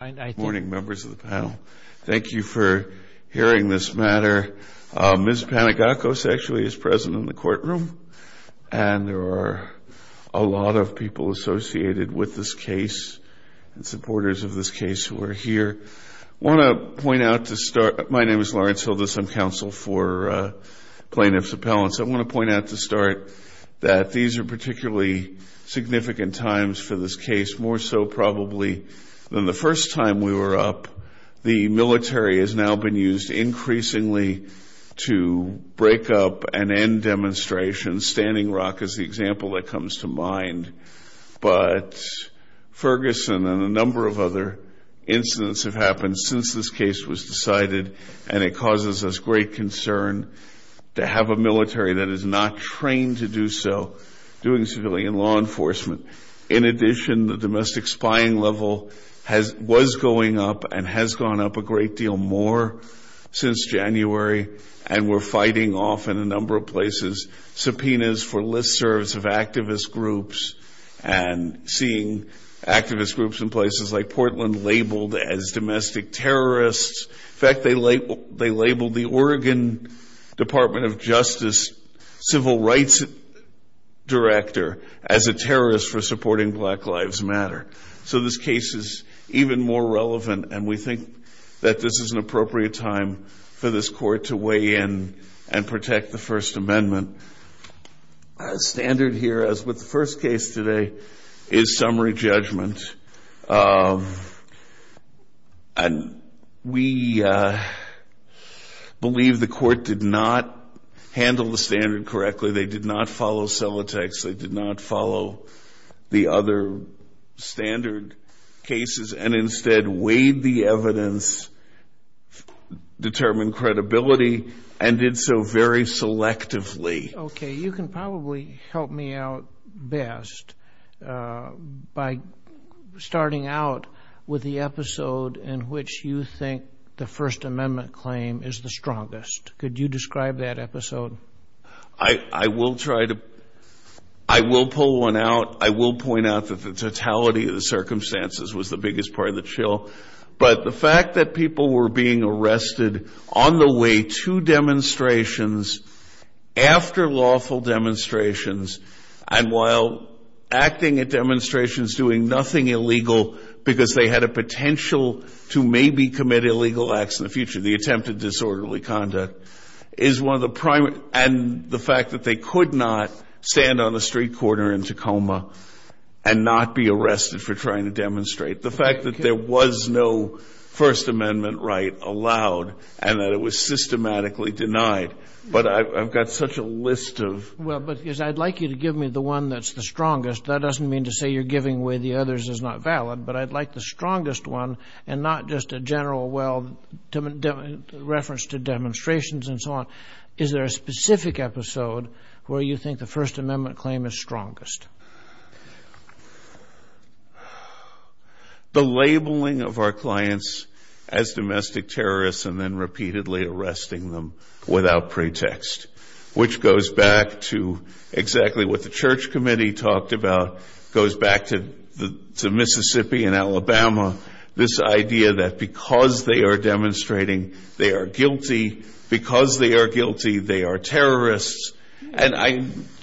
Good morning, members of the panel. Thank you for hearing this matter. Ms. Panagacos actually is present in the courtroom and there are a lot of people associated with this case and supporters of this case who are here. I want to point out to start, my name is Lawrence Hildes. I'm counsel for plaintiff's appellants. I want to point out to start that these are particularly significant times for this time we were up, the military has now been used increasingly to break up and end demonstrations. Standing Rock is the example that comes to mind. But Ferguson and a number of other incidents have happened since this case was decided, and it causes us great concern to have a military that is not trained to do so, doing civilian law enforcement. In addition, the domestic spying level was going up and has gone up a great deal more since January, and we're fighting off in a number of places subpoenas for listservs of activist groups and seeing activist groups in places like Portland labeled as domestic terrorists. In fact, they labeled the Oregon Department of Justice civil rights director as a terrorist for supporting Black Lives Matter. So this case is even more relevant, and we think that this is an appropriate time for this court to weigh in and protect the First Amendment. A standard here, as with the first case today, is summary judgment. And we believe the court did not handle the standard correctly. They did not follow cell attacks. They did not follow the other standard cases and instead weighed the evidence, determined credibility, and did so very selectively. Okay, you can probably help me out best by starting out with the episode in which you think the First Amendment claim is the strongest. Could you describe that episode? I will try to. I will pull one out. I will point out that the totality of the circumstances was the biggest part of the chill. But the fact that people were being arrested on the way to demonstrations, after lawful demonstrations, and while acting at demonstrations doing nothing illegal because they had a potential to maybe commit illegal acts in the future, the attempted disorderly conduct, is one of the primary. And the fact that they could not stand on the street corner in Tacoma and not be arrested for trying to demonstrate. The fact that there was no First Amendment right allowed and that it was systematically denied. But I've got such a list of... Well, but I'd like you to give me the one that's the strongest. That doesn't mean to say you're giving away the others is not valid. But I'd like the strongest one and not just a general, well, reference to demonstration and so on. Is there a specific episode where you think the First Amendment claim is strongest? The labeling of our clients as domestic terrorists and then repeatedly arresting them without pretext. Which goes back to exactly what the church committee talked about, goes back to Mississippi and Alabama. This idea that because they are demonstrating, they are guilty. Because they are guilty, they are terrorists.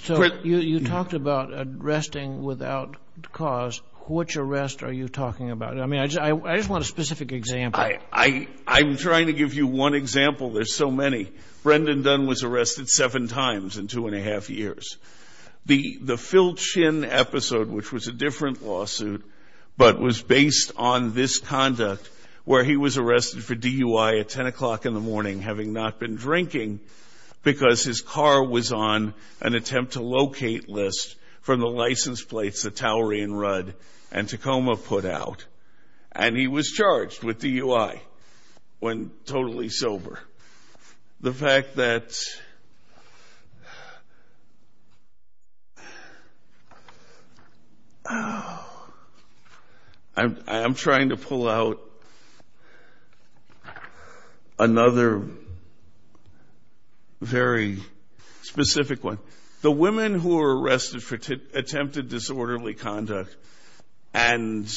So you talked about arresting without cause. Which arrest are you talking about? I mean, I just want a specific example. I'm trying to give you one example. There's so many. Brendan Dunn was arrested seven times in two and a half years. The Phil Chin episode, which was a different lawsuit, but was based on this conduct where he was arrested for DUI at 10 o'clock in the morning having not been drinking because his car was on an attempt to locate list from the license plates that Towery and Rudd and Tacoma put out. And he was charged with DUI when totally sober. The fact that I'm trying to pull out another very specific one. The women who were arrested for attempted disorderly conduct and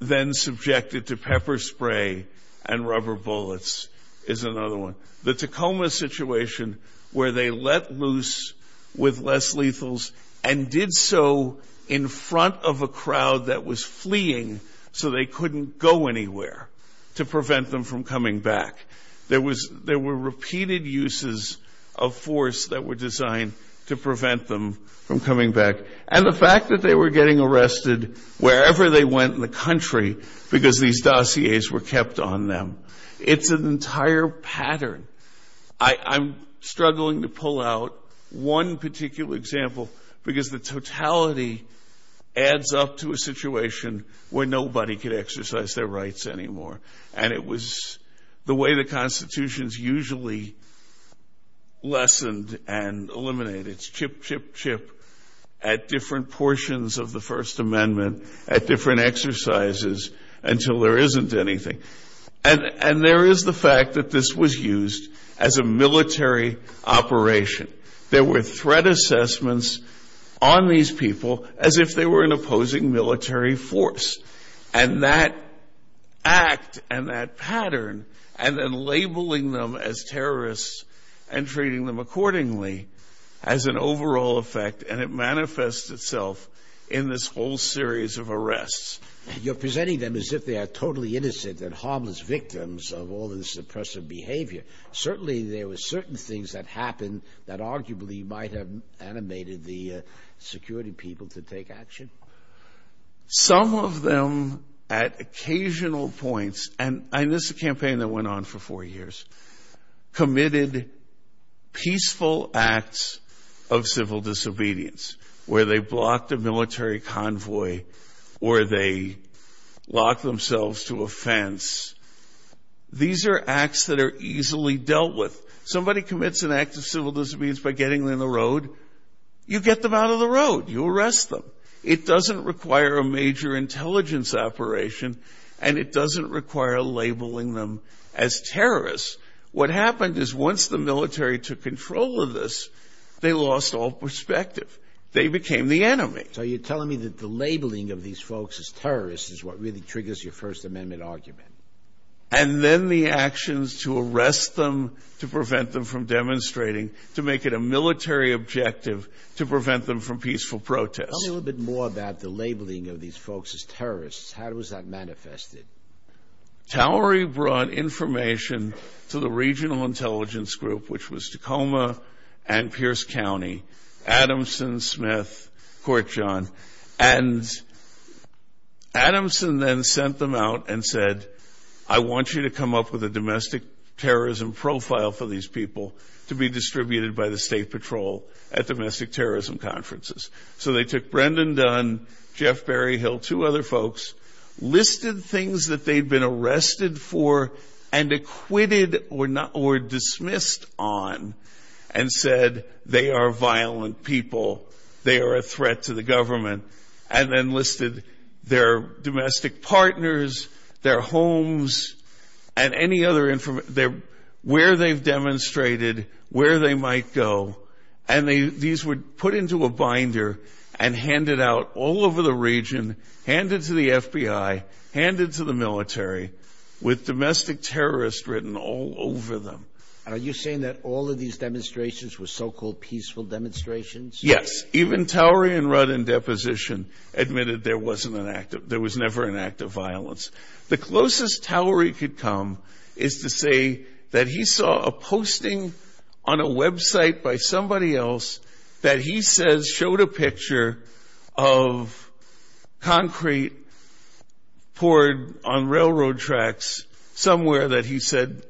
then subjected to pepper spray and rubber bullets is another one. The Tacoma situation where they let loose with less lethals and did so in front of a crowd that was fleeing so they couldn't go anywhere to prevent them from coming back. There were repeated uses of force that were designed to prevent them from coming back. And the fact that they were getting arrested wherever they went in the country because these dossiers were kept on them. It's an entire pattern. I'm struggling to pull out one particular example because the totality adds up to a situation where nobody could exercise their rights anymore. And it was the way the Constitution is usually lessened and eliminated. It's chip, chip, chip at different portions of the First Amendment, at different exercises until there isn't anything. And there is the fact that this was used as a military operation. There were threat assessments on these people as if they were an opposing military force. And that act and that pattern and then labeling them as terrorists and treating them accordingly has an overall effect and it manifests itself in this whole series of arrests. You're presenting them as if they are totally innocent and harmless victims of all this oppressive behavior. Certainly, there were certain things that happened that arguably might have animated the security people to take action. Some of them at occasional points, and this is a campaign that went on for four years, committed peaceful acts of civil disobedience where they blocked a military convoy or they locked themselves to a fence. These are acts that are easily dealt with. Somebody commits an act of civil disobedience by getting in the road, you get them out of the road. You arrest them. It doesn't require a major intelligence operation and it doesn't require labeling them as terrorists. What happened is once the military took control of this, they lost all perspective. They became the enemy. So you're telling me that the labeling of these folks as terrorists is what really triggers your First Amendment argument? And then the actions to arrest them, to prevent them from demonstrating, to make it a military objective, to prevent them from peaceful protest. Tell me a little bit more about the labeling of these folks as terrorists. How was that manifested? Towery brought information to the regional intelligence group, which was Tacoma and Pierce County, Adamson, Smith, Court John, and Adamson then sent them out and said, I want you to come up with a domestic terrorism profile for these people to be distributed by the state patrol at domestic terrorism conferences. So they took Brendan Dunn, Jeff Berryhill, two other folks, listed things that they'd been arrested for and acquitted or dismissed on and said, they are violent people. They are a threat to the government. And then listed their domestic partners, their homes, and any other information, where they've demonstrated, where they might go. And these were put into a binder and handed out all over the region, handed to the FBI, handed to the military, with domestic terrorists written all over them. Are you saying that all of these demonstrations were so-called peaceful demonstrations? Yes. Even Towery and Rudd in deposition admitted there was never an act of violence. The closest Towery could come is to say that he saw a posting on a website by somebody else that he says showed a picture of concrete poured on railroad tracks somewhere that he said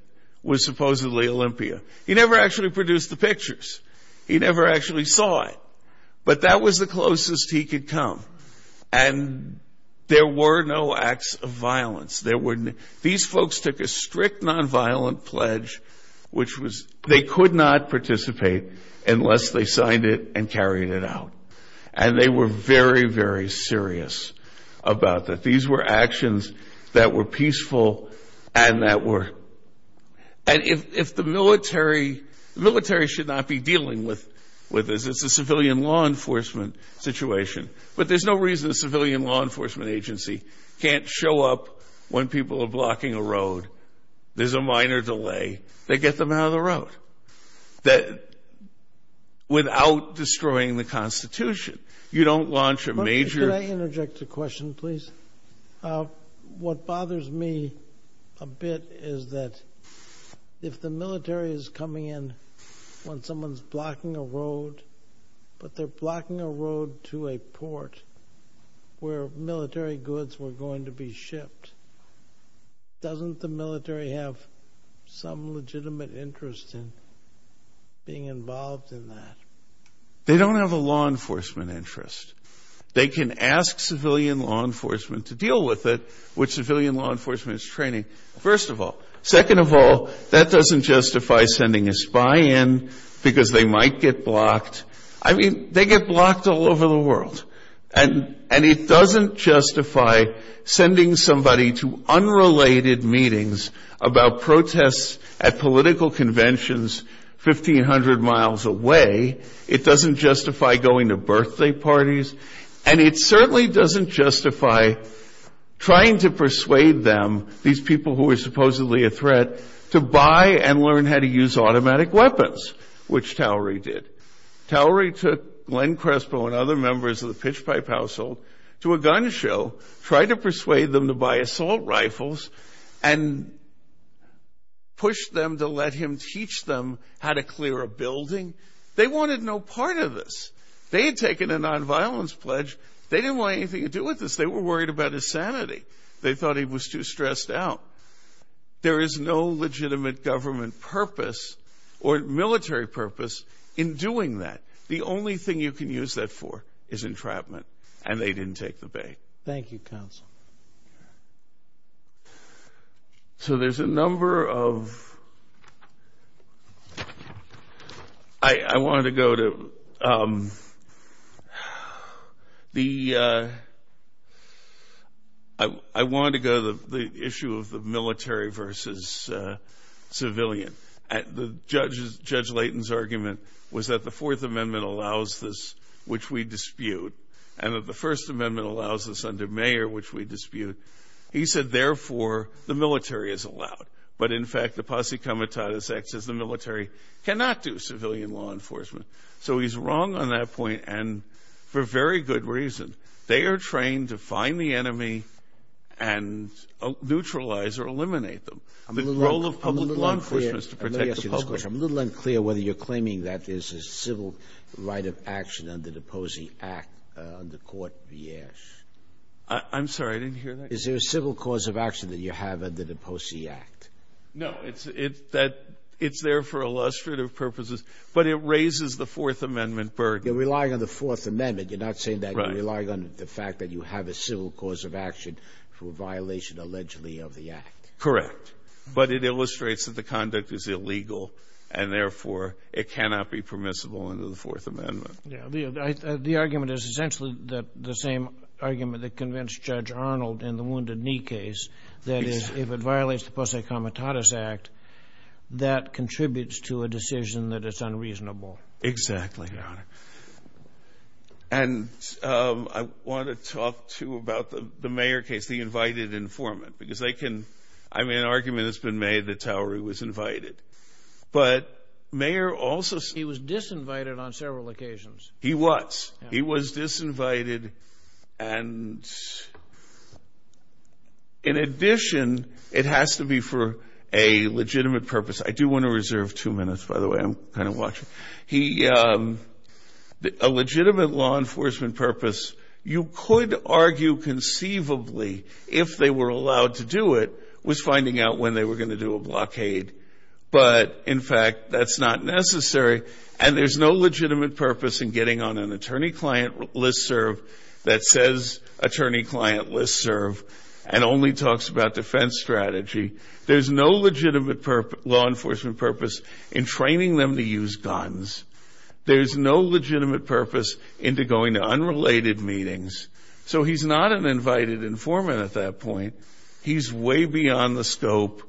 was supposedly Olympia. He never actually produced the pictures. He never actually saw it. But that was the closest he could come. And there were no acts of violence. These folks took a strict nonviolent pledge, which was they could not participate unless they signed it and carried it out. And they were very, very serious about that. These were actions that were peaceful and that were... And if the military, the military should not be dealing with this. It's a civilian law enforcement situation. But there's no reason a civilian law enforcement agency can't show up when people are blocking a road. There's a minor delay. They get them out of the road without destroying the Constitution. You don't launch a major... Could I interject a question, please? What bothers me a bit is that if the military is coming in when someone's blocking a road, but they're blocking a road to a port where military goods were going to be shipped, doesn't the military have some legitimate interest in being involved in that? They don't have a law enforcement interest. They can ask civilian law enforcement to deal with it, which civilian law enforcement is training, first of all. Second of all, that doesn't justify sending a spy in because they might get blocked. I mean, they get blocked all over the world. And it doesn't justify sending somebody to unrelated meetings about protests at political conventions 1,500 miles away. It doesn't justify going to birthday parties. And it certainly doesn't justify trying to persuade them, these people who are supposedly a threat, to buy and learn how to use automatic weapons, which Towery did. Towery took Glenn Crespo and other members of the Pitch Pipe household to a gun show, tried to persuade them to buy assault rifles, and pushed them to let him teach them how to clear a building. They wanted no part of this. They had taken a nonviolence pledge. They didn't want anything to do with this. They were worried about his sanity. They thought he was too stressed out. There is no legitimate government purpose or military purpose in doing that. The only thing you can use that for is entrapment. And they didn't take the bait. Thank you, counsel. So there's a number of... I wanted to go to the issue of the military versus civilian. Judge Layton's argument was that the Fourth Amendment allows this, which we dispute, and that the First Amendment allows this under Mayer, which we dispute. He said, therefore, the military is allowed. But, in fact, the posse comitatus acts as the military cannot do civilian law enforcement. So he's wrong on that point, and for very good reason. They are trained to find the enemy and neutralize or eliminate them. The role of public law enforcement is to protect the public. I'm a little unclear whether you're claiming that there's a civil right of action under the Posey Act, under Court Vieche. I'm sorry, I didn't hear that. Is there a civil cause of action that you have under the Posey Act? No, it's there for illustrative purposes. But it raises the Fourth Amendment burden. You're relying on the Fourth Amendment. You're not saying that you're relying on the fact that you have a civil cause of action for a violation, allegedly, of the Act. Correct. But it illustrates that the conduct is illegal, and, therefore, it cannot be permissible under the Fourth Amendment. The argument is essentially the same argument that convinced Judge Arnold in the Wounded Act that contributes to a decision that is unreasonable. Exactly. And I want to talk, too, about the Mayer case, the invited informant, because they can... I mean, an argument has been made that Towery was invited. But Mayer also... He was disinvited on several occasions. He was. He was disinvited. And, in addition, it has to be for a legitimate purpose. I do want to reserve two minutes, by the way. I'm kind of watching. A legitimate law enforcement purpose, you could argue conceivably, if they were allowed to do it, was finding out when they were going to do a blockade. But, in fact, that's not necessary. And there's no legitimate purpose in getting on an attorney-client listserv that says attorney-client listserv and only talks about defense strategy. There's no legitimate law enforcement purpose in training them to use guns. There's no legitimate purpose into going to unrelated meetings. So he's not an invited informant at that point. He's way beyond the scope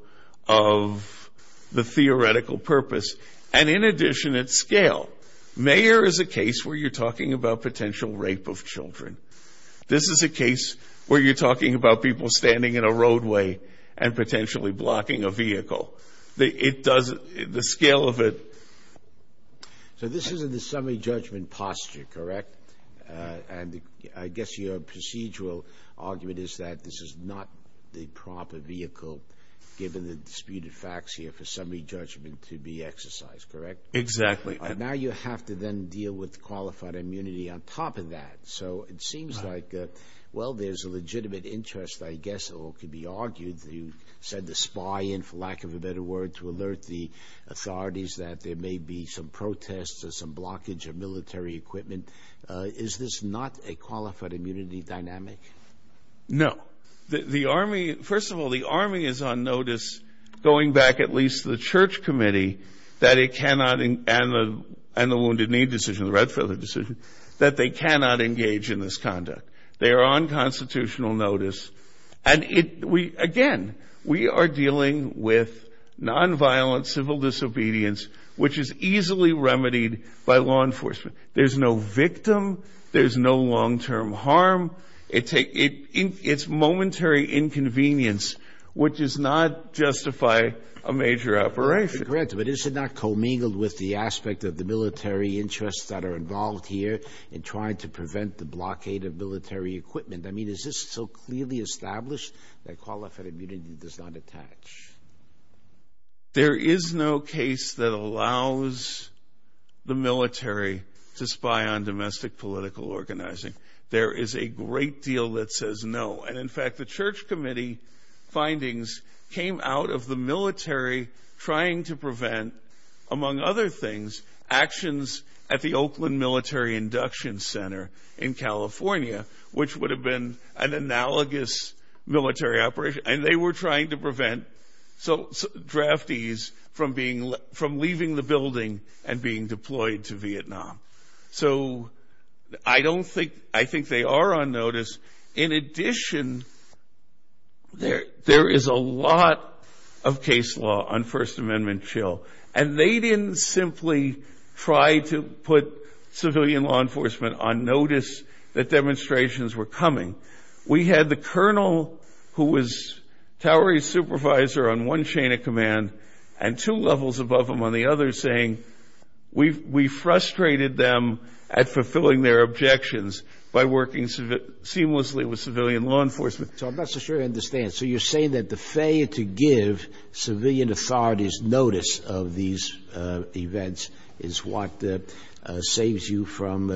of the theoretical purpose. And, in addition, at scale, Mayer is a case where you're talking about potential rape of children. This is a case where you're talking about people standing in a roadway and potentially blocking a vehicle. It doesn't... The scale of it... So this is in the summary judgment posture, correct? And I guess your procedural argument is that this is not the proper vehicle, given the Exactly. And now you have to then deal with qualified immunity on top of that. So it seems like, well, there's a legitimate interest, I guess, or could be argued, you said the spy in, for lack of a better word, to alert the authorities that there may be some protests or some blockage of military equipment. Is this not a qualified immunity dynamic? No. The Army... First of all, the Army is on notice, going back at least to the Church Committee, that it cannot, and the Wounded Knee decision, the Redfeather decision, that they cannot engage in this conduct. They are on constitutional notice. And, again, we are dealing with nonviolent civil disobedience, which is easily remedied by law enforcement. There's no victim. There's no long-term harm. It's momentary inconvenience, which does not justify a major operation. Correct. But is it not commingled with the aspect of the military interests that are involved here in trying to prevent the blockade of military equipment? I mean, is this so clearly established that qualified immunity does not attach? There is no case that allows the military to spy on domestic political organizing. There is a great deal that says no. And, in fact, the Church Committee findings came out of the military trying to prevent, among other things, actions at the Oakland Military Induction Center in California, which would have been an analogous military operation. And they were trying to prevent draftees from leaving the building and being deployed to Vietnam. So I don't think... I think they are on notice. In addition, there is a lot of case law on First Amendment chill. And they didn't simply try to put civilian law enforcement on notice that demonstrations were coming. We had the colonel who was towery supervisor on one chain of command and two levels above him on the other saying, we frustrated them at fulfilling their objections by working seamlessly with civilian law enforcement. So I'm not so sure I understand. So you're saying that the failure to give civilian authorities notice of these events is what saves you from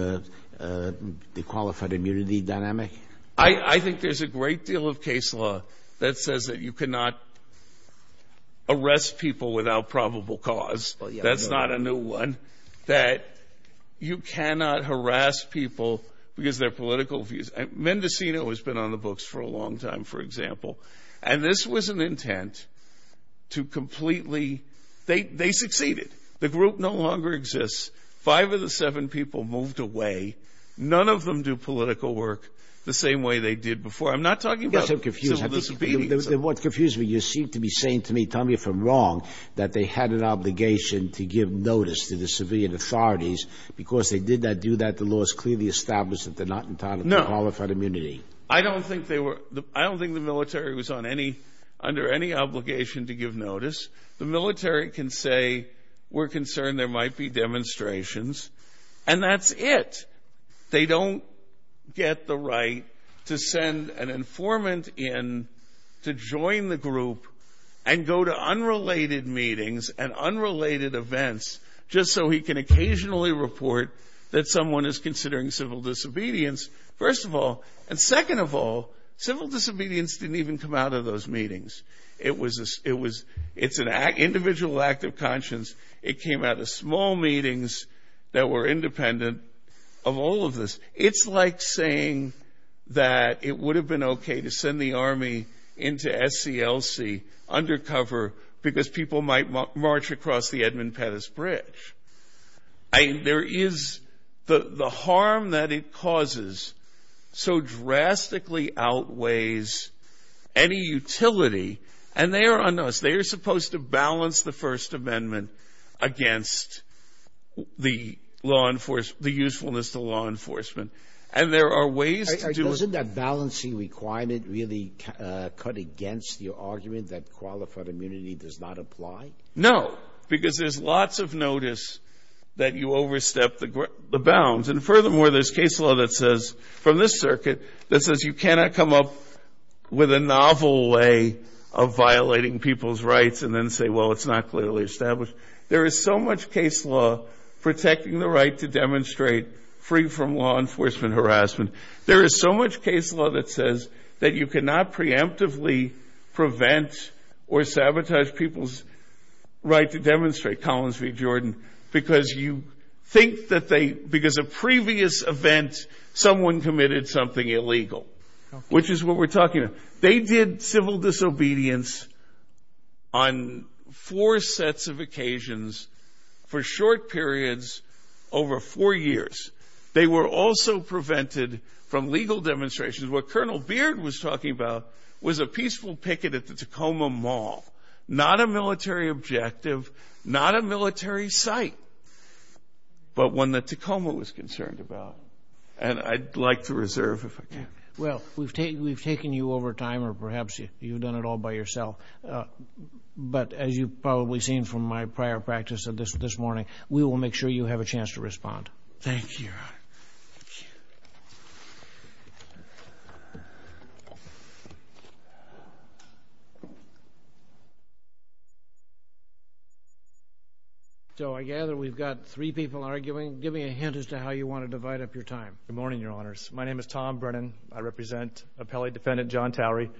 the qualified immunity dynamic? I think there's a great deal of case law that says that you cannot arrest people without probable cause. That's not a new one. That you cannot harass people because their political views. Mendocino has been on the books for a long time, for example. And this was an intent to completely... They succeeded. The group no longer exists. Five of the seven people moved away. None of them do political work the same way they did before. I'm not talking about... Yes, I'm confused. ...civil disobedience. What confused me, you seem to be saying to me, tell me if I'm wrong, that they had an authority because they did not do that. The law is clearly established that they're not entitled to qualified immunity. I don't think they were... I don't think the military was under any obligation to give notice. The military can say, we're concerned there might be demonstrations, and that's it. They don't get the right to send an informant in to join the group and go to unrelated meetings and unrelated events just so he can occasionally report that someone is considering civil disobedience, first of all. And second of all, civil disobedience didn't even come out of those meetings. It's an individual act of conscience. It came out of small meetings that were independent of all of this. It's like saying that it would have been okay to send the army into SCLC, undercover, because people might march across the Edmund Pettus Bridge. There is... The harm that it causes so drastically outweighs any utility. And they are unnoticed. They are supposed to balance the First Amendment against the law enforcement, the usefulness to law enforcement. And there are ways to do... Is the balancing requirement really cut against the argument that qualified immunity does not apply? No, because there's lots of notice that you overstep the bounds. And furthermore, there's case law that says, from this circuit, that says you cannot come up with a novel way of violating people's rights and then say, well, it's not clearly established. There is so much case law protecting the right to demonstrate free from law enforcement harassment. There is so much case law that says that you cannot preemptively prevent or sabotage people's right to demonstrate, Collins v. Jordan, because you think that they... Because a previous event, someone committed something illegal, which is what we're talking about. They did civil disobedience on four sets of occasions for short periods over four years. They were also prevented from legal demonstrations. What Colonel Beard was talking about was a peaceful picket at the Tacoma Mall. Not a military objective, not a military site, but one that Tacoma was concerned about. And I'd like to reserve, if I can. Well, we've taken you over time, or perhaps you've done it all by yourself. But as you've probably seen from my prior practice this morning, we will make sure you have a chance to respond. Thank you, Your Honor. So I gather we've got three people arguing. Give me a hint as to how you want to divide up your time. Good morning, Your Honors. My name is Tom Brennan. I represent Appellate Defendant John Towery.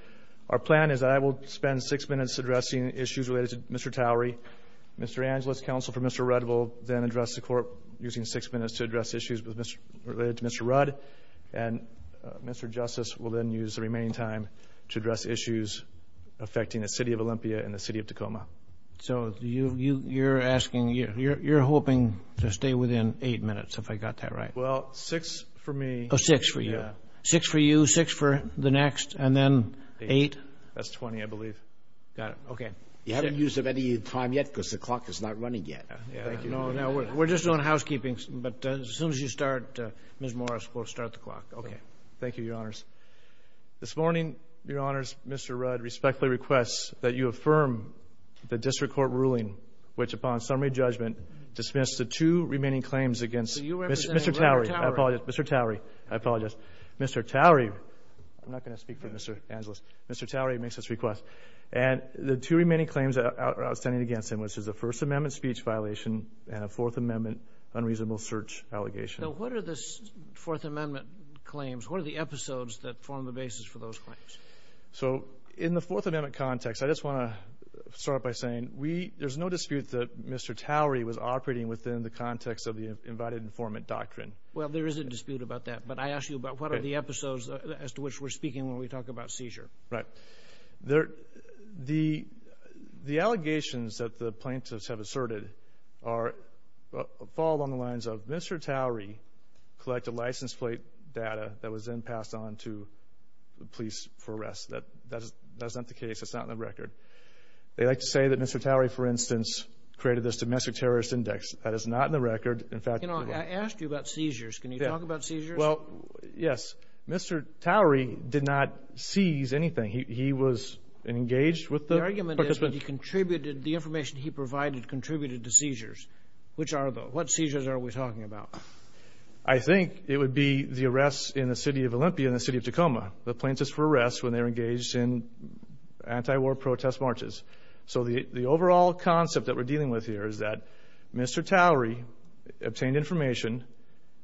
Our plan is that I will spend six minutes addressing issues related to Mr. Towery. Mr. Angeles, counsel for Mr. Rudd, will then address the court using six minutes to address issues related to Mr. Rudd. And Mr. Justice will then use the remaining time to address issues affecting the city of Olympia and the city of Tacoma. So you're hoping to stay within eight minutes, if I got that right? Well, six for me. Oh, six for you. Six for you, six for the next, and then eight? That's 20, I believe. Got it. Okay. You haven't used up any time yet because the clock is not running yet. Thank you. No, we're just doing housekeeping. But as soon as you start, Ms. Morris, we'll start the clock. Okay. Thank you, Your Honors. This morning, Your Honors, Mr. Rudd respectfully requests that you affirm the district court ruling which, upon summary judgment, dismissed the two remaining claims against Mr. Towery. Mr. Towery, I apologize. Mr. Towery, I'm not going to speak for Mr. Angeles. Mr. Towery makes this request. And the two remaining claims outstanding against him, which is a First Amendment speech violation and a Fourth Amendment unreasonable search allegation. Now, what are the Fourth Amendment claims? What are the episodes that form the basis for those claims? So in the Fourth Amendment context, I just want to start by saying there's no dispute that Mr. Towery was operating within the context of the invited informant doctrine. Well, there is a dispute about that. But I asked you about what are the episodes as to which we're speaking when we talk about seizure. Right. The allegations that the plaintiffs have asserted fall along the lines of Mr. Towery collected license plate data that was then passed on to the police for arrest. That's not the case. It's not in the record. They like to say that Mr. Towery, for instance, created this domestic terrorist index. That is not in the record. In fact, I asked you about seizures. Can you talk about seizures? Well, yes. Mr. Towery did not seize anything. He was engaged with the... The argument is that he contributed... The information he provided contributed to seizures. Which are the... What seizures are we talking about? I think it would be the arrests in the city of Olympia, in the city of Tacoma. The plaintiffs were arrested when they were engaged in anti-war protest marches. So the overall concept that we're dealing with here is that Mr. Towery obtained information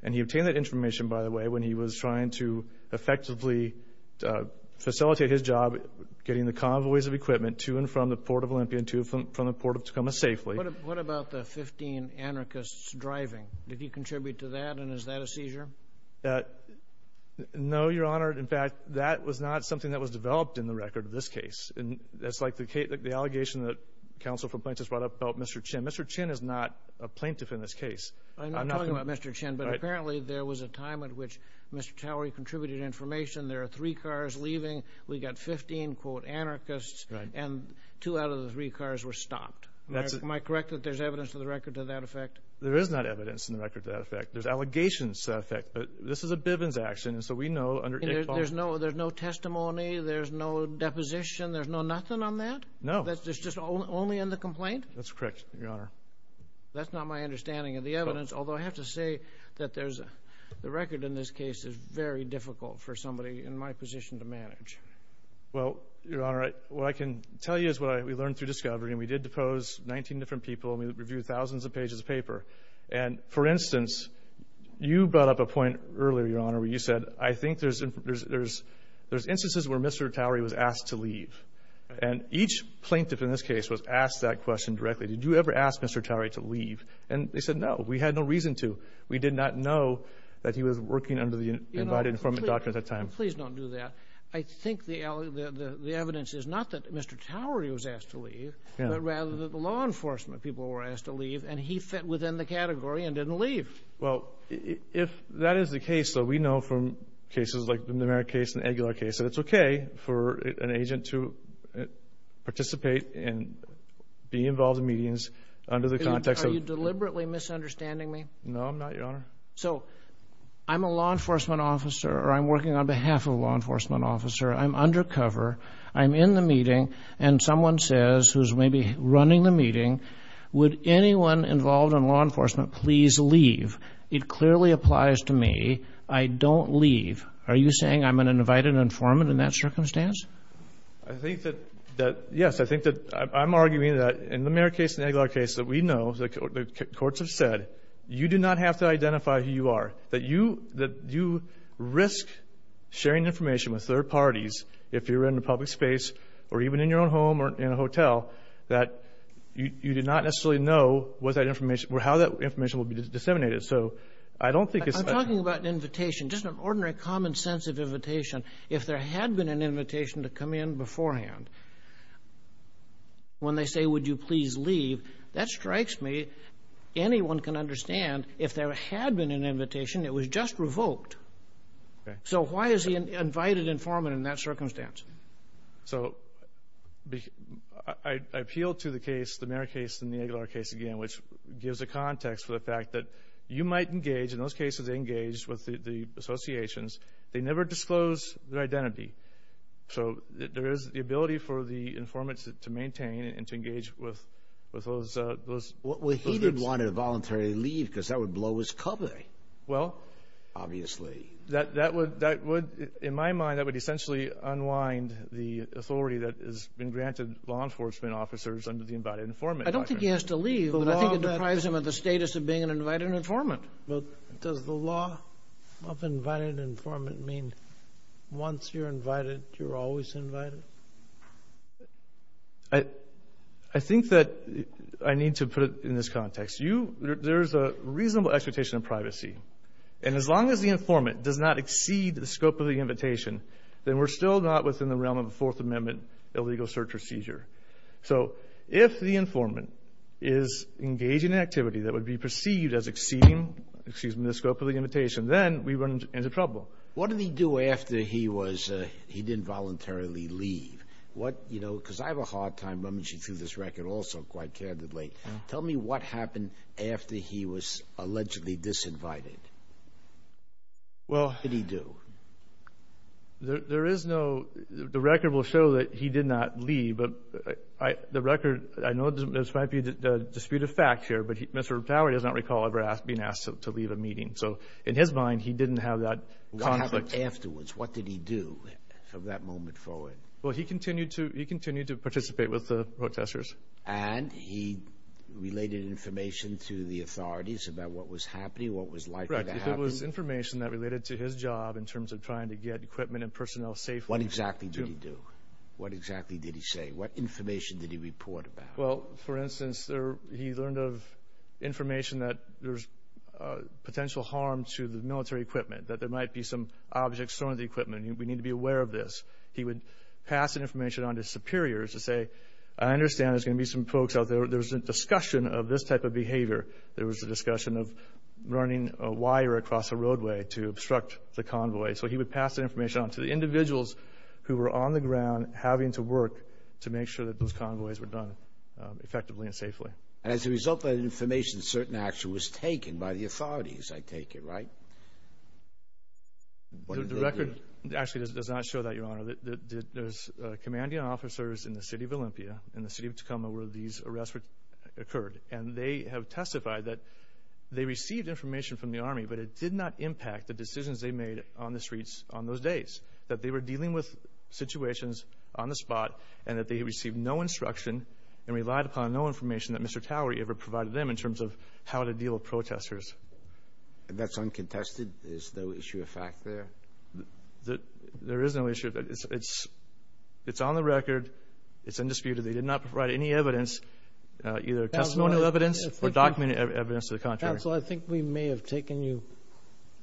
and he obtained that information, by the way, when he was trying to effectively facilitate his job getting the convoys of equipment to and from the port of Olympia and to and from the port of Tacoma safely. What about the 15 anarchists driving? Did he contribute to that? And is that a seizure? No, Your Honor. In fact, that was not something that was developed in the record of this case. And that's like the allegation that counsel for plaintiffs brought up about Mr. Chin. Mr. Chin is not a plaintiff in this case. I'm not talking about Mr. Chin, but apparently there was a time at which Mr. Towery contributed information. There are three cars leaving. We got 15, quote, anarchists. And two out of the three cars were stopped. Am I correct that there's evidence to the record to that effect? There is not evidence in the record to that effect. There's allegations to that effect, but this is a Bivens action. And so we know under ICTAR- There's no testimony. There's no deposition. There's no nothing on that? No. That's just only in the complaint? That's correct, Your Honor. That's not my understanding of the evidence, although I have to say that there's- the record in this case is very difficult for somebody in my position to manage. Well, Your Honor, what I can tell you is what we learned through discovery. And we did depose 19 different people and we reviewed thousands of pages of paper. And for instance, you brought up a point earlier, Your Honor, where you said, I think there's instances where Mr. Towery was asked to leave. And each plaintiff in this case was asked that question directly. Did you ever ask Mr. Towery to leave? And they said, no, we had no reason to. We did not know that he was working under the Invited Informant Doctrine at that time. Please don't do that. I think the evidence is not that Mr. Towery was asked to leave, but rather that the law enforcement people were asked to leave and he fit within the category and didn't leave. Well, if that is the case, so we know from cases like the Numeric case and the Aguilar case that it's okay for an agent to participate and be involved in meetings under the context of... Are you deliberately misunderstanding me? No, I'm not, Your Honor. So I'm a law enforcement officer or I'm working on behalf of a law enforcement officer. I'm undercover. I'm in the meeting. And someone says, who's maybe running the meeting, would anyone involved in law enforcement please leave? It clearly applies to me. I don't leave. Are you saying I'm an invited informant in that circumstance? I think that, yes, I'm arguing that in the Numeric case and the Aguilar case, that we know, the courts have said, you do not have to identify who you are. That you risk sharing information with third parties if you're in a public space or even in your own home or in a hotel that you did not necessarily know what that information, how that information will be disseminated. So I don't think it's... I'm talking about an invitation, just an ordinary common sense of invitation. If there had been an invitation to come in beforehand, when they say, would you please leave? That strikes me. Anyone can understand if there had been an invitation, it was just revoked. So why is he an invited informant in that circumstance? So I appeal to the case, the Numeric case and the Aguilar case again, which gives a context for the fact that you might engage, in those cases, engage with the associations. They never disclose their identity. So there is the ability for the informants to maintain and to engage with those groups. Well, he did want to voluntarily leave because that would blow his cover. Well... Obviously. That would, in my mind, that would essentially unwind the authority that has been granted law enforcement officers under the invited informant doctrine. I don't think he has to leave, but I think it deprives him of the status of being an invited informant. But does the law of invited informant mean once you're invited, you're always invited? I think that I need to put it in this context. You, there is a reasonable expectation of privacy. And as long as the informant does not exceed the scope of the invitation, then we're still not within the realm of a Fourth Amendment illegal search procedure. So if the informant is engaging in activity that would be perceived as exceeding, excuse me, the scope of the invitation, then we run into trouble. What did he do after he was, he didn't voluntarily leave? What, you know, because I have a hard time rummaging through this record also quite candidly. Tell me what happened after he was allegedly disinvited. Well, what did he do? There is no, the record will show that he did not leave, but the record, I know this might be a dispute of fact here, but Mr. Tauer does not recall ever being asked to leave a meeting. So in his mind, he didn't have that conflict. What happened afterwards? What did he do from that moment forward? Well, he continued to, he continued to participate with the protesters. And he related information to the authorities about what was happening, what was likely to happen. If it was information that related to his job in terms of trying to get equipment and personnel safe. What exactly did he do? What exactly did he say? What information did he report about? Well, for instance, he learned of information that there's potential harm to the military equipment, that there might be some objects thrown at the equipment. We need to be aware of this. He would pass that information on to superiors to say, I understand there's going to be some folks out there. There was a discussion of this type of behavior. There was a discussion of running a wire across a roadway to obstruct the convoy. So he would pass that information on to the individuals who were on the ground having to work to make sure that those convoys were done effectively and safely. And as a result of that information, certain action was taken by the authorities, I take it, right? The record actually does not show that, Your Honor. There's commanding officers in the city of Olympia and the city of Tacoma where these arrests occurred. And they have testified that they received information from the army, but it did not impact the decisions they made on the streets on those days, that they were dealing with situations on the spot and that they received no instruction and relied upon no information that Mr. Towery ever provided them in terms of how to deal with protesters. And that's uncontested? There's no issue of fact there? There is no issue. It's on the record. It's undisputed. They did not provide any evidence, either testimonial evidence or documented evidence to the contrary. Counsel, I think we may have taken you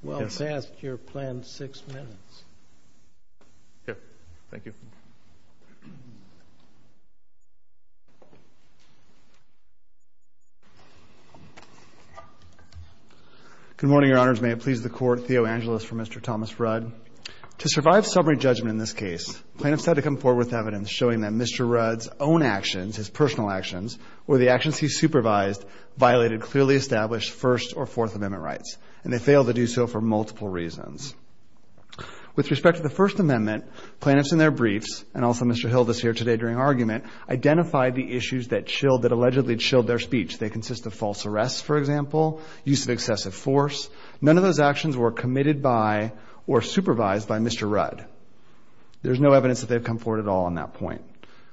well past your planned six minutes. Here. Thank you. Good morning, Your Honors. May it please the Court, Theo Angelis for Mr. Thomas Rudd. To survive summary judgment in this case, plaintiffs had to come forward with evidence showing that Mr. Rudd's own actions, his personal actions or the actions he supervised violated clearly established First or Fourth Amendment rights, and they failed to do so for multiple reasons. With respect to the First Amendment, plaintiffs in their briefs and also Mr. Hilda's here today during argument identified the issues that chilled that allegedly chilled their speech. They consist of false arrests, for example, use of excessive force. None of those actions were committed by or supervised by Mr. Rudd. There's no evidence that they've come forward at all on that point.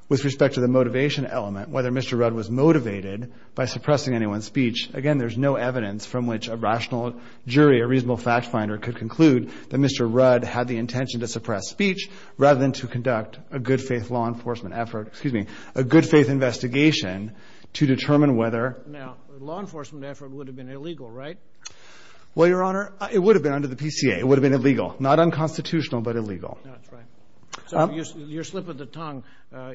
With respect to the motivation element, whether Mr. Rudd was motivated by suppressing anyone's speech. Again, there's no evidence from which a rational jury, a reasonable fact finder could conclude that Mr. Rudd had the intention to suppress speech rather than to conduct a good faith law enforcement effort. Excuse me, a good faith investigation to determine whether. Now, law enforcement effort would have been illegal, right? Well, Your Honor, it would have been under the PCA. It would have been illegal, not unconstitutional, but illegal. That's right. Your slip of the tongue.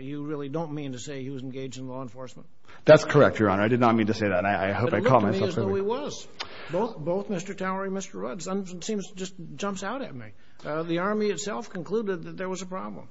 You really don't mean to say he was engaged in law enforcement. That's correct, Your Honor. I did not mean to say that. And I hope I call myself. So he was both both Mr. Towery, Mr. Rudd. Seems just jumps out at me. The Army itself concluded that there was a problem.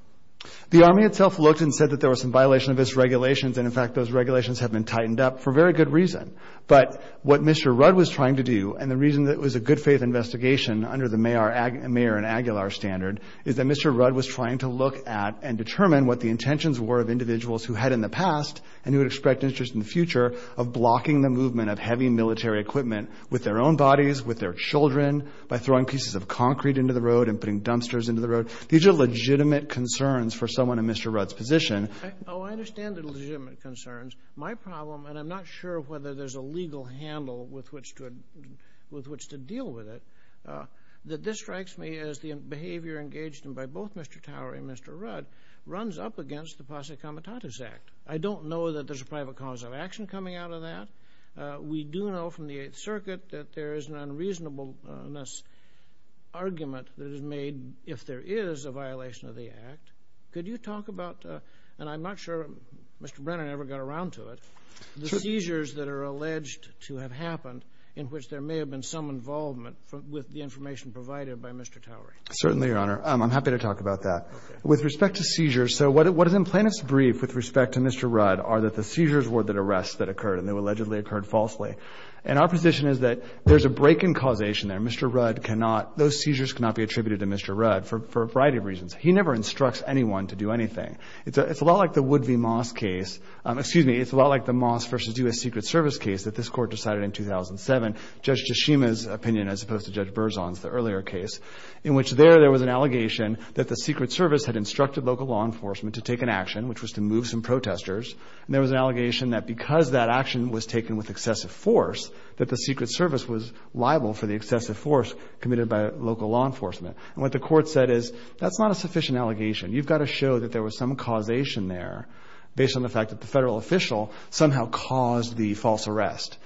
The Army itself looked and said that there was some violation of its regulations. And in fact, those regulations have been tightened up for very good reason. But what Mr. Rudd was trying to do and the reason that it was a good faith investigation under the mayor and Aguilar standard is that Mr. Rudd was trying to look at and determine what the intentions were of individuals who had in the past and who would expect interest in the future of blocking the movement of heavy military equipment with their own bodies, with their children, by throwing pieces of concrete into the road and putting dumpsters into the road. These are legitimate concerns for someone in Mr. Rudd's position. Oh, I understand the legitimate concerns. My problem, and I'm not sure whether there's a legal handle with which to deal with it, that this strikes me as the behavior engaged in by both Mr. Towery and Mr. Rudd runs up against the Posse Comitatus Act. I don't know that there's a private cause of action coming out of that. We do know from the Eighth Circuit that there is an unreasonableness argument that is made if there is a violation of the act. Could you talk about, and I'm not sure Mr. Brennan ever got around to it, the seizures that are alleged to have happened in which there may have been some involvement with the information provided by Mr. Towery? Certainly, Your Honor. I'm happy to talk about that. With respect to seizures, so what is in plaintiff's brief with respect to Mr. Rudd are that the seizures were the arrests that occurred and they allegedly occurred falsely. And our position is that there's a break in causation there. Mr. Rudd cannot, those seizures cannot be attributed to Mr. Rudd for a variety of reasons. He never instructs anyone to do anything. It's a lot like the Wood v. Moss case. Excuse me. It's a lot like the Moss versus U.S. Secret Service case that this court decided in 2007, Judge Tshishima's opinion, as opposed to Judge Berzon's, the earlier case, in which there, there was an allegation that the Secret Service had instructed local law enforcement to take an action, which was to move some protesters. And there was an allegation that because that action was taken with excessive force, that the Secret Service was liable for the excessive force committed by local law enforcement. And what the court said is, that's not a sufficient allegation. You've got to show that there was some causation there based on the fact that the federal official somehow caused the false arrest.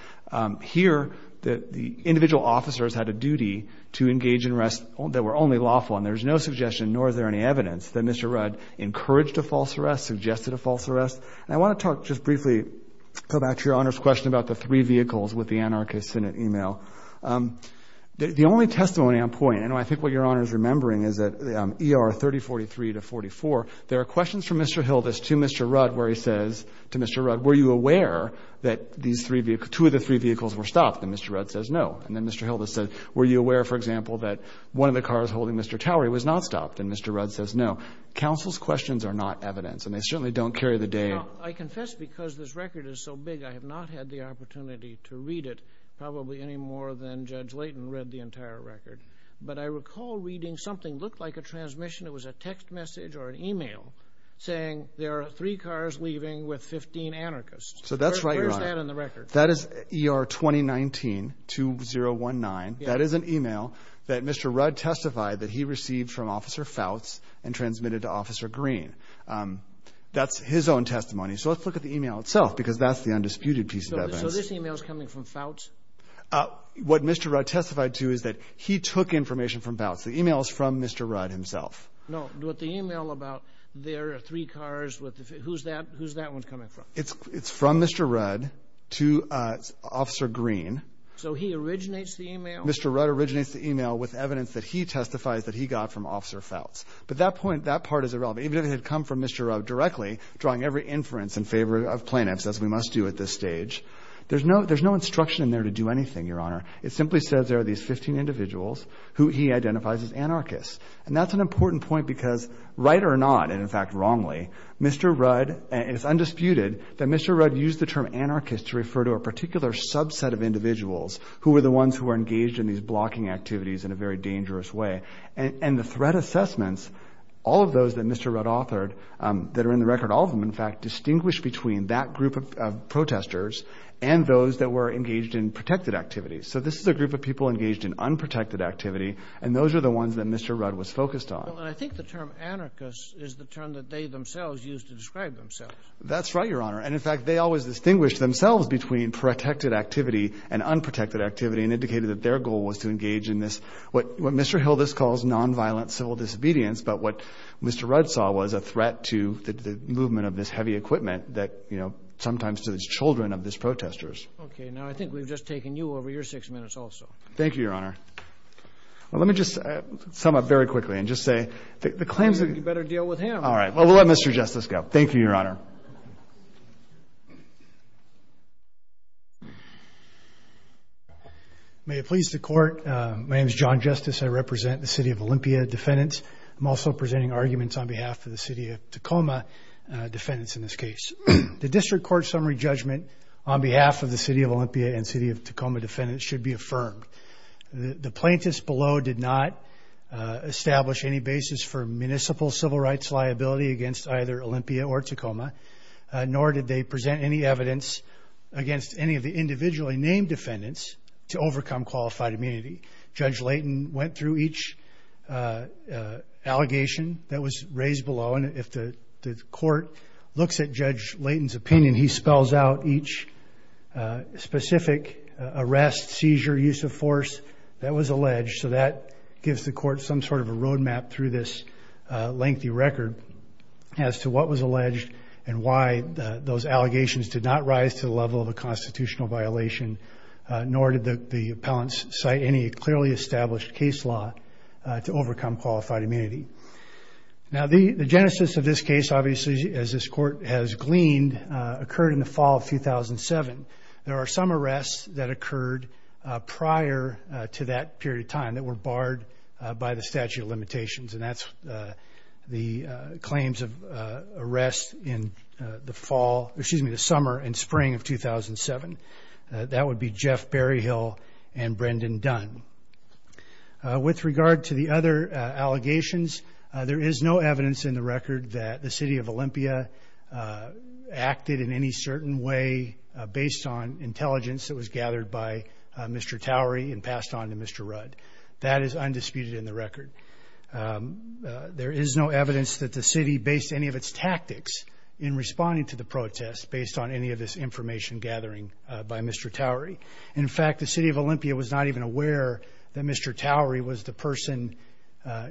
Here, the individual officers had a duty to engage in arrests that were only lawful. And there's no suggestion, nor is there any evidence, that Mr. Rudd encouraged a false arrest, suggested a false arrest. And I want to talk just briefly, go back to your Honor's question about the three vehicles with the anarchist Senate email. The only testimony on point, and I think what your Honor is remembering is that ER 3043 to 44, there are questions from Mr. Hildas to Mr. Rudd where he says, to Mr. Rudd, were you aware that these three vehicles, two of the three vehicles were stopped? And Mr. Rudd says, no. And then Mr. Hildas said, were you aware, for example, that one of the cars holding Mr. Towery was not stopped? And Mr. Rudd says, no. Counsel's questions are not evidence. And they certainly don't carry the day. You know, I confess because this record is so big, I have not had the opportunity to read it probably any more than Judge Layton read the entire record. But I recall reading something looked like a transmission. It was a text message or an email saying there are three cars leaving with 15 anarchists. So that's right. Where's that in the record? That is ER 2019-2019. That is an email that Mr. Rudd testified that he received from Officer Fouts and transmitted to Officer Green. That's his own testimony. So let's look at the email itself because that's the undisputed piece of evidence. So this email is coming from Fouts? What Mr. Rudd testified to is that he took information from Fouts. The email is from Mr. Rudd himself. No, what the email about there are three cars with, who's that one coming from? It's from Mr. Rudd to Officer Green. So he originates the email? Mr. Rudd originates the email with evidence that he testifies that he got from Officer Fouts. But that point, that part is irrelevant. Even if it had come from Mr. Rudd directly drawing every inference in favor of plaintiffs as we must do at this stage. There's no instruction in there to do anything, Your Honor. It simply says there are these 15 individuals who he identifies as anarchists. And that's an important point because right or not, and in fact, wrongly, Mr. Rudd, it's undisputed that Mr. Rudd used the term anarchist to refer to a particular subset of individuals who were the ones who were engaged in these blocking activities in a very dangerous way. And the threat assessments, all of those that Mr. Rudd authored that are in the record, all of them, in fact, distinguished between that group of protesters and those that were engaged in protected activities. So this is a group of people engaged in unprotected activity. And those are the ones that Mr. Rudd was focused on. I think the term anarchist is the term that they themselves used to describe themselves. That's right, Your Honor. And in fact, they always distinguished themselves between protected activity and unprotected activity and indicated that their goal was to engage in this, what Mr. Hildas calls nonviolent civil disobedience. But what Mr. Rudd saw was a threat to the movement of this heavy equipment that, you know, sometimes to the children of these protesters. OK, now I think we've just taken you over your six minutes also. Thank you, Your Honor. Well, let me just sum up very quickly and just say the claims... All right. Well, we'll let Mr. Justice go. Thank you, Your Honor. May it please the court. My name is John Justice. I represent the city of Olympia defendants. I'm also presenting arguments on behalf of the city of Tacoma defendants in this case. The district court summary judgment on behalf of the city of Olympia and city of Tacoma defendants should be affirmed. The plaintiffs below did not establish any basis for municipal civil rights liability against either Olympia or Tacoma, nor did they present any evidence against any of the individually named defendants to overcome qualified immunity. Judge Layton went through each allegation that was raised below. And if the court looks at Judge Layton's opinion, he spells out each specific arrest, seizure, use of force that was alleged. So that gives the court some sort of a roadmap through this lengthy record as to what was alleged and why those allegations did not rise to the level of a constitutional violation, nor did the appellants cite any clearly established case law to overcome qualified immunity. Now, the genesis of this case, obviously, as this court has gleaned, occurred in the fall of 2007. There are some arrests that occurred prior to that period of time that were barred by the statute of limitations. And that's the claims of arrest in the fall, excuse me, the summer and spring of 2007. That would be Jeff Berryhill and Brendan Dunn. With regard to the other allegations, there is no evidence in the record that the city of Olympia acted in any certain way based on intelligence that was gathered by Mr. Towery and passed on to Mr. Rudd. That is undisputed in the record. There is no evidence that the city based any of its tactics in responding to the protest based on any of this information gathering by Mr. Towery. In fact, the city of Olympia was not even aware that Mr. Towery was the person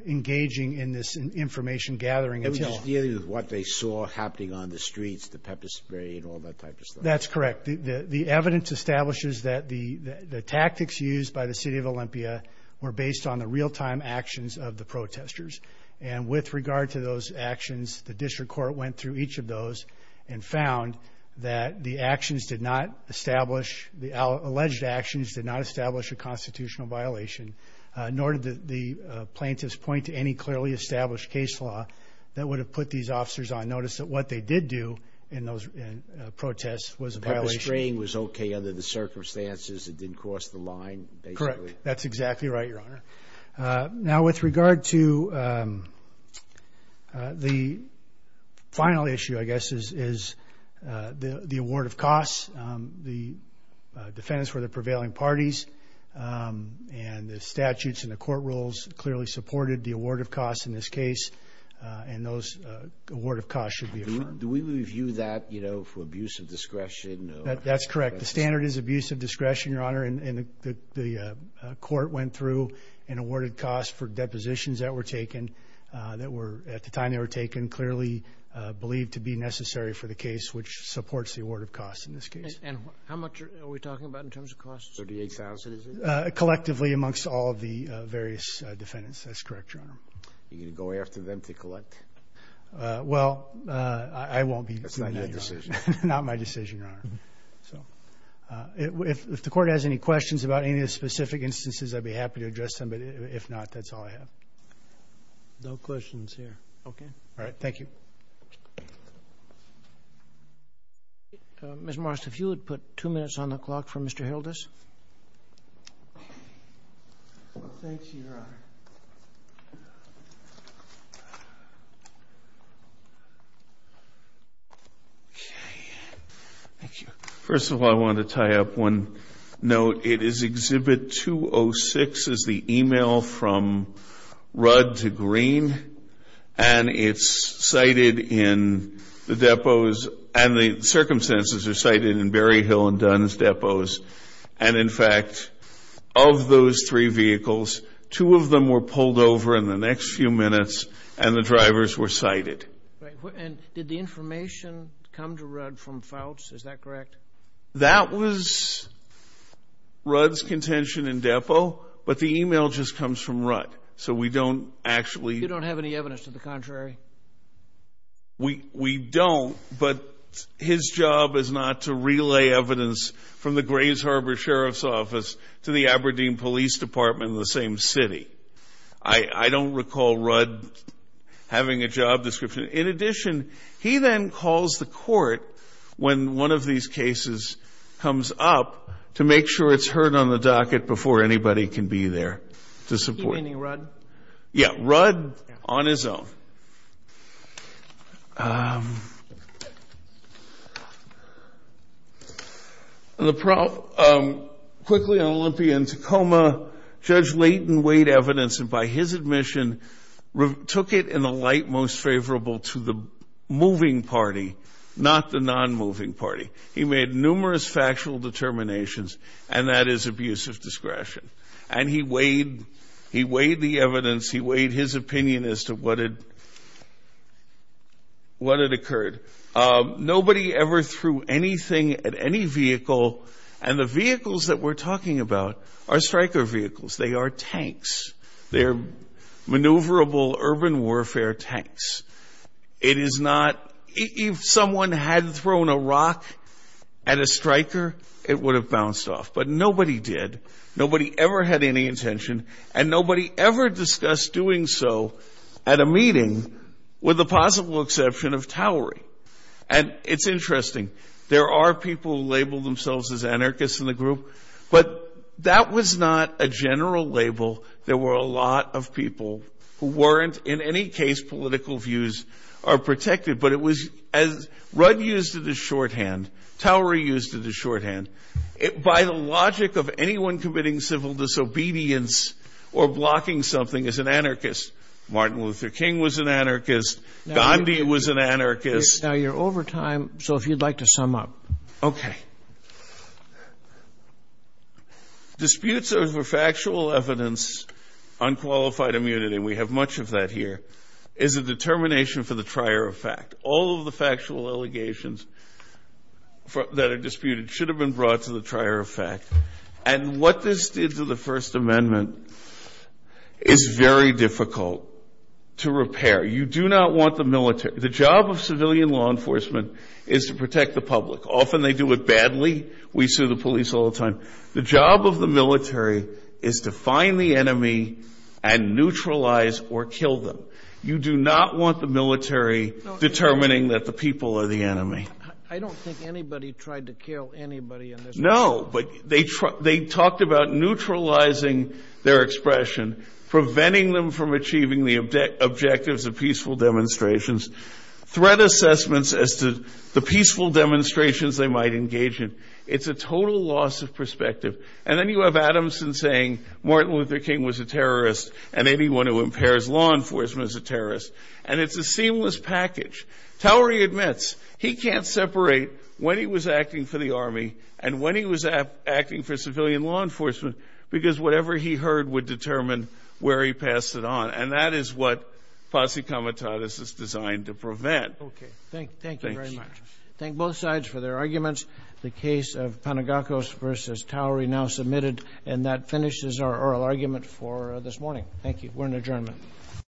engaging in this information gathering. It was dealing with what they saw happening on the streets, the pepper spray and all that type of stuff. That's correct. The evidence establishes that the tactics used by the city of Olympia were based on the real-time actions of the protesters. And with regard to those actions, the district court went through each of those and found that the actions did not establish, the alleged actions did not establish a constitutional violation, nor did the plaintiffs point to any clearly established case law that would have put these officers on notice that what they did do in those protests was a violation. The pepper spray was OK under the circumstances. It didn't cross the line. Correct. That's exactly right, Your Honor. Now, with regard to the final issue, I guess, is the award of costs. The defendants were the prevailing parties and the statutes and the court rules clearly supported the award of costs in this case. And those award of costs should be affirmed. Do we review that, you know, for abuse of discretion? That's correct. The standard is abuse of discretion, Your Honor, and the court went through and awarded costs for depositions that were taken that were at the time they were taken, clearly believed to be necessary for the case, which supports the award of costs in this case. And how much are we talking about in terms of costs? Thirty-eight thousand, is it? Collectively amongst all of the various defendants. That's correct, Your Honor. Are you going to go after them to collect? Well, I won't be doing that decision. Not my decision, Your Honor. So if the court has any questions about any of the specific instances, I'd be happy to address them. But if not, that's all I have. No questions here. OK. All right. Thank you. Mr. Morris, if you would put two minutes on the clock for Mr. Hildes. Thank you, Your Honor. OK. Thank you. First of all, I want to tie up one note. It is Exhibit 206, is the email from Rudd to Green. And it's cited in the depots. And the circumstances are cited in Berryhill and Dunn's depots. And in fact, of those three vehicles, two of them were pulled over in the next few minutes and the drivers were cited. Right. And did the information come to Rudd from Fouts? Is that correct? That was Rudd's contention in depot. But the email just comes from Rudd. So we don't actually... You don't have any evidence to the contrary? We don't. But his job is not to relay evidence from the Grays Harbor Sheriff's Office to the Aberdeen Police Department in the same city. I don't recall Rudd having a job description. In addition, he then calls the court when one of these cases comes up to make sure it's heard on the docket before anybody can be there to support. He meaning Rudd? Yeah, Rudd on his own. And the problem... Quickly on Olympia and Tacoma, Judge Layton weighed evidence and by his admission, took it in a light most favorable to the moving party, not the non-moving party. He made numerous factual determinations and that is abuse of discretion. And he weighed the evidence. He weighed his opinion as to what had occurred. Nobody ever threw anything at any vehicle. And the vehicles that we're talking about are striker vehicles. They are tanks. They're maneuverable urban warfare tanks. It is not... If someone had thrown a rock at a striker, it would have bounced off. But nobody did. Nobody ever had any intention and nobody ever discussed doing so at a meeting with the possible exception of Towery. And it's interesting. There are people who label themselves as anarchists in the group, but that was not a general label. There were a lot of people who weren't in any case political views are protected, but it was as Rudd used it as shorthand. Towery used it as shorthand. By the logic of anyone committing civil disobedience or blocking something as an anarchist, Martin Luther King was an anarchist. Gandhi was an anarchist. Now you're over time, so if you'd like to sum up. Okay. Disputes over factual evidence, unqualified immunity, we have much of that here, is a determination for the trier of fact. All of the factual allegations that are disputed should have been brought to the trier of fact. And what this did to the First Amendment is very difficult to repair. You do not want the military. The job of civilian law enforcement is to protect the public. Often they do it badly. We sue the police all the time. The job of the military is to find the enemy and neutralize or kill them. You do not want the military determining that the people are the enemy. I don't think anybody tried to kill anybody. No, but they talked about neutralizing their expression, preventing them from achieving the objectives of peaceful demonstrations, threat assessments as to the peaceful demonstrations they might engage in. It's a total loss of perspective. And then you have Adamson saying Martin Luther King was a terrorist and anyone who impairs law enforcement is a terrorist. And it's a seamless package. Towery admits he can't separate when he was acting for the army and when he was acting for civilian law enforcement because whatever he heard would determine where he passed it on. And that is what posse comitatus is designed to prevent. OK, thank you very much. Thank both sides for their arguments. The case of Panagakos versus Towery now submitted. And that finishes our oral argument for this morning. Thank you. We're in adjournment.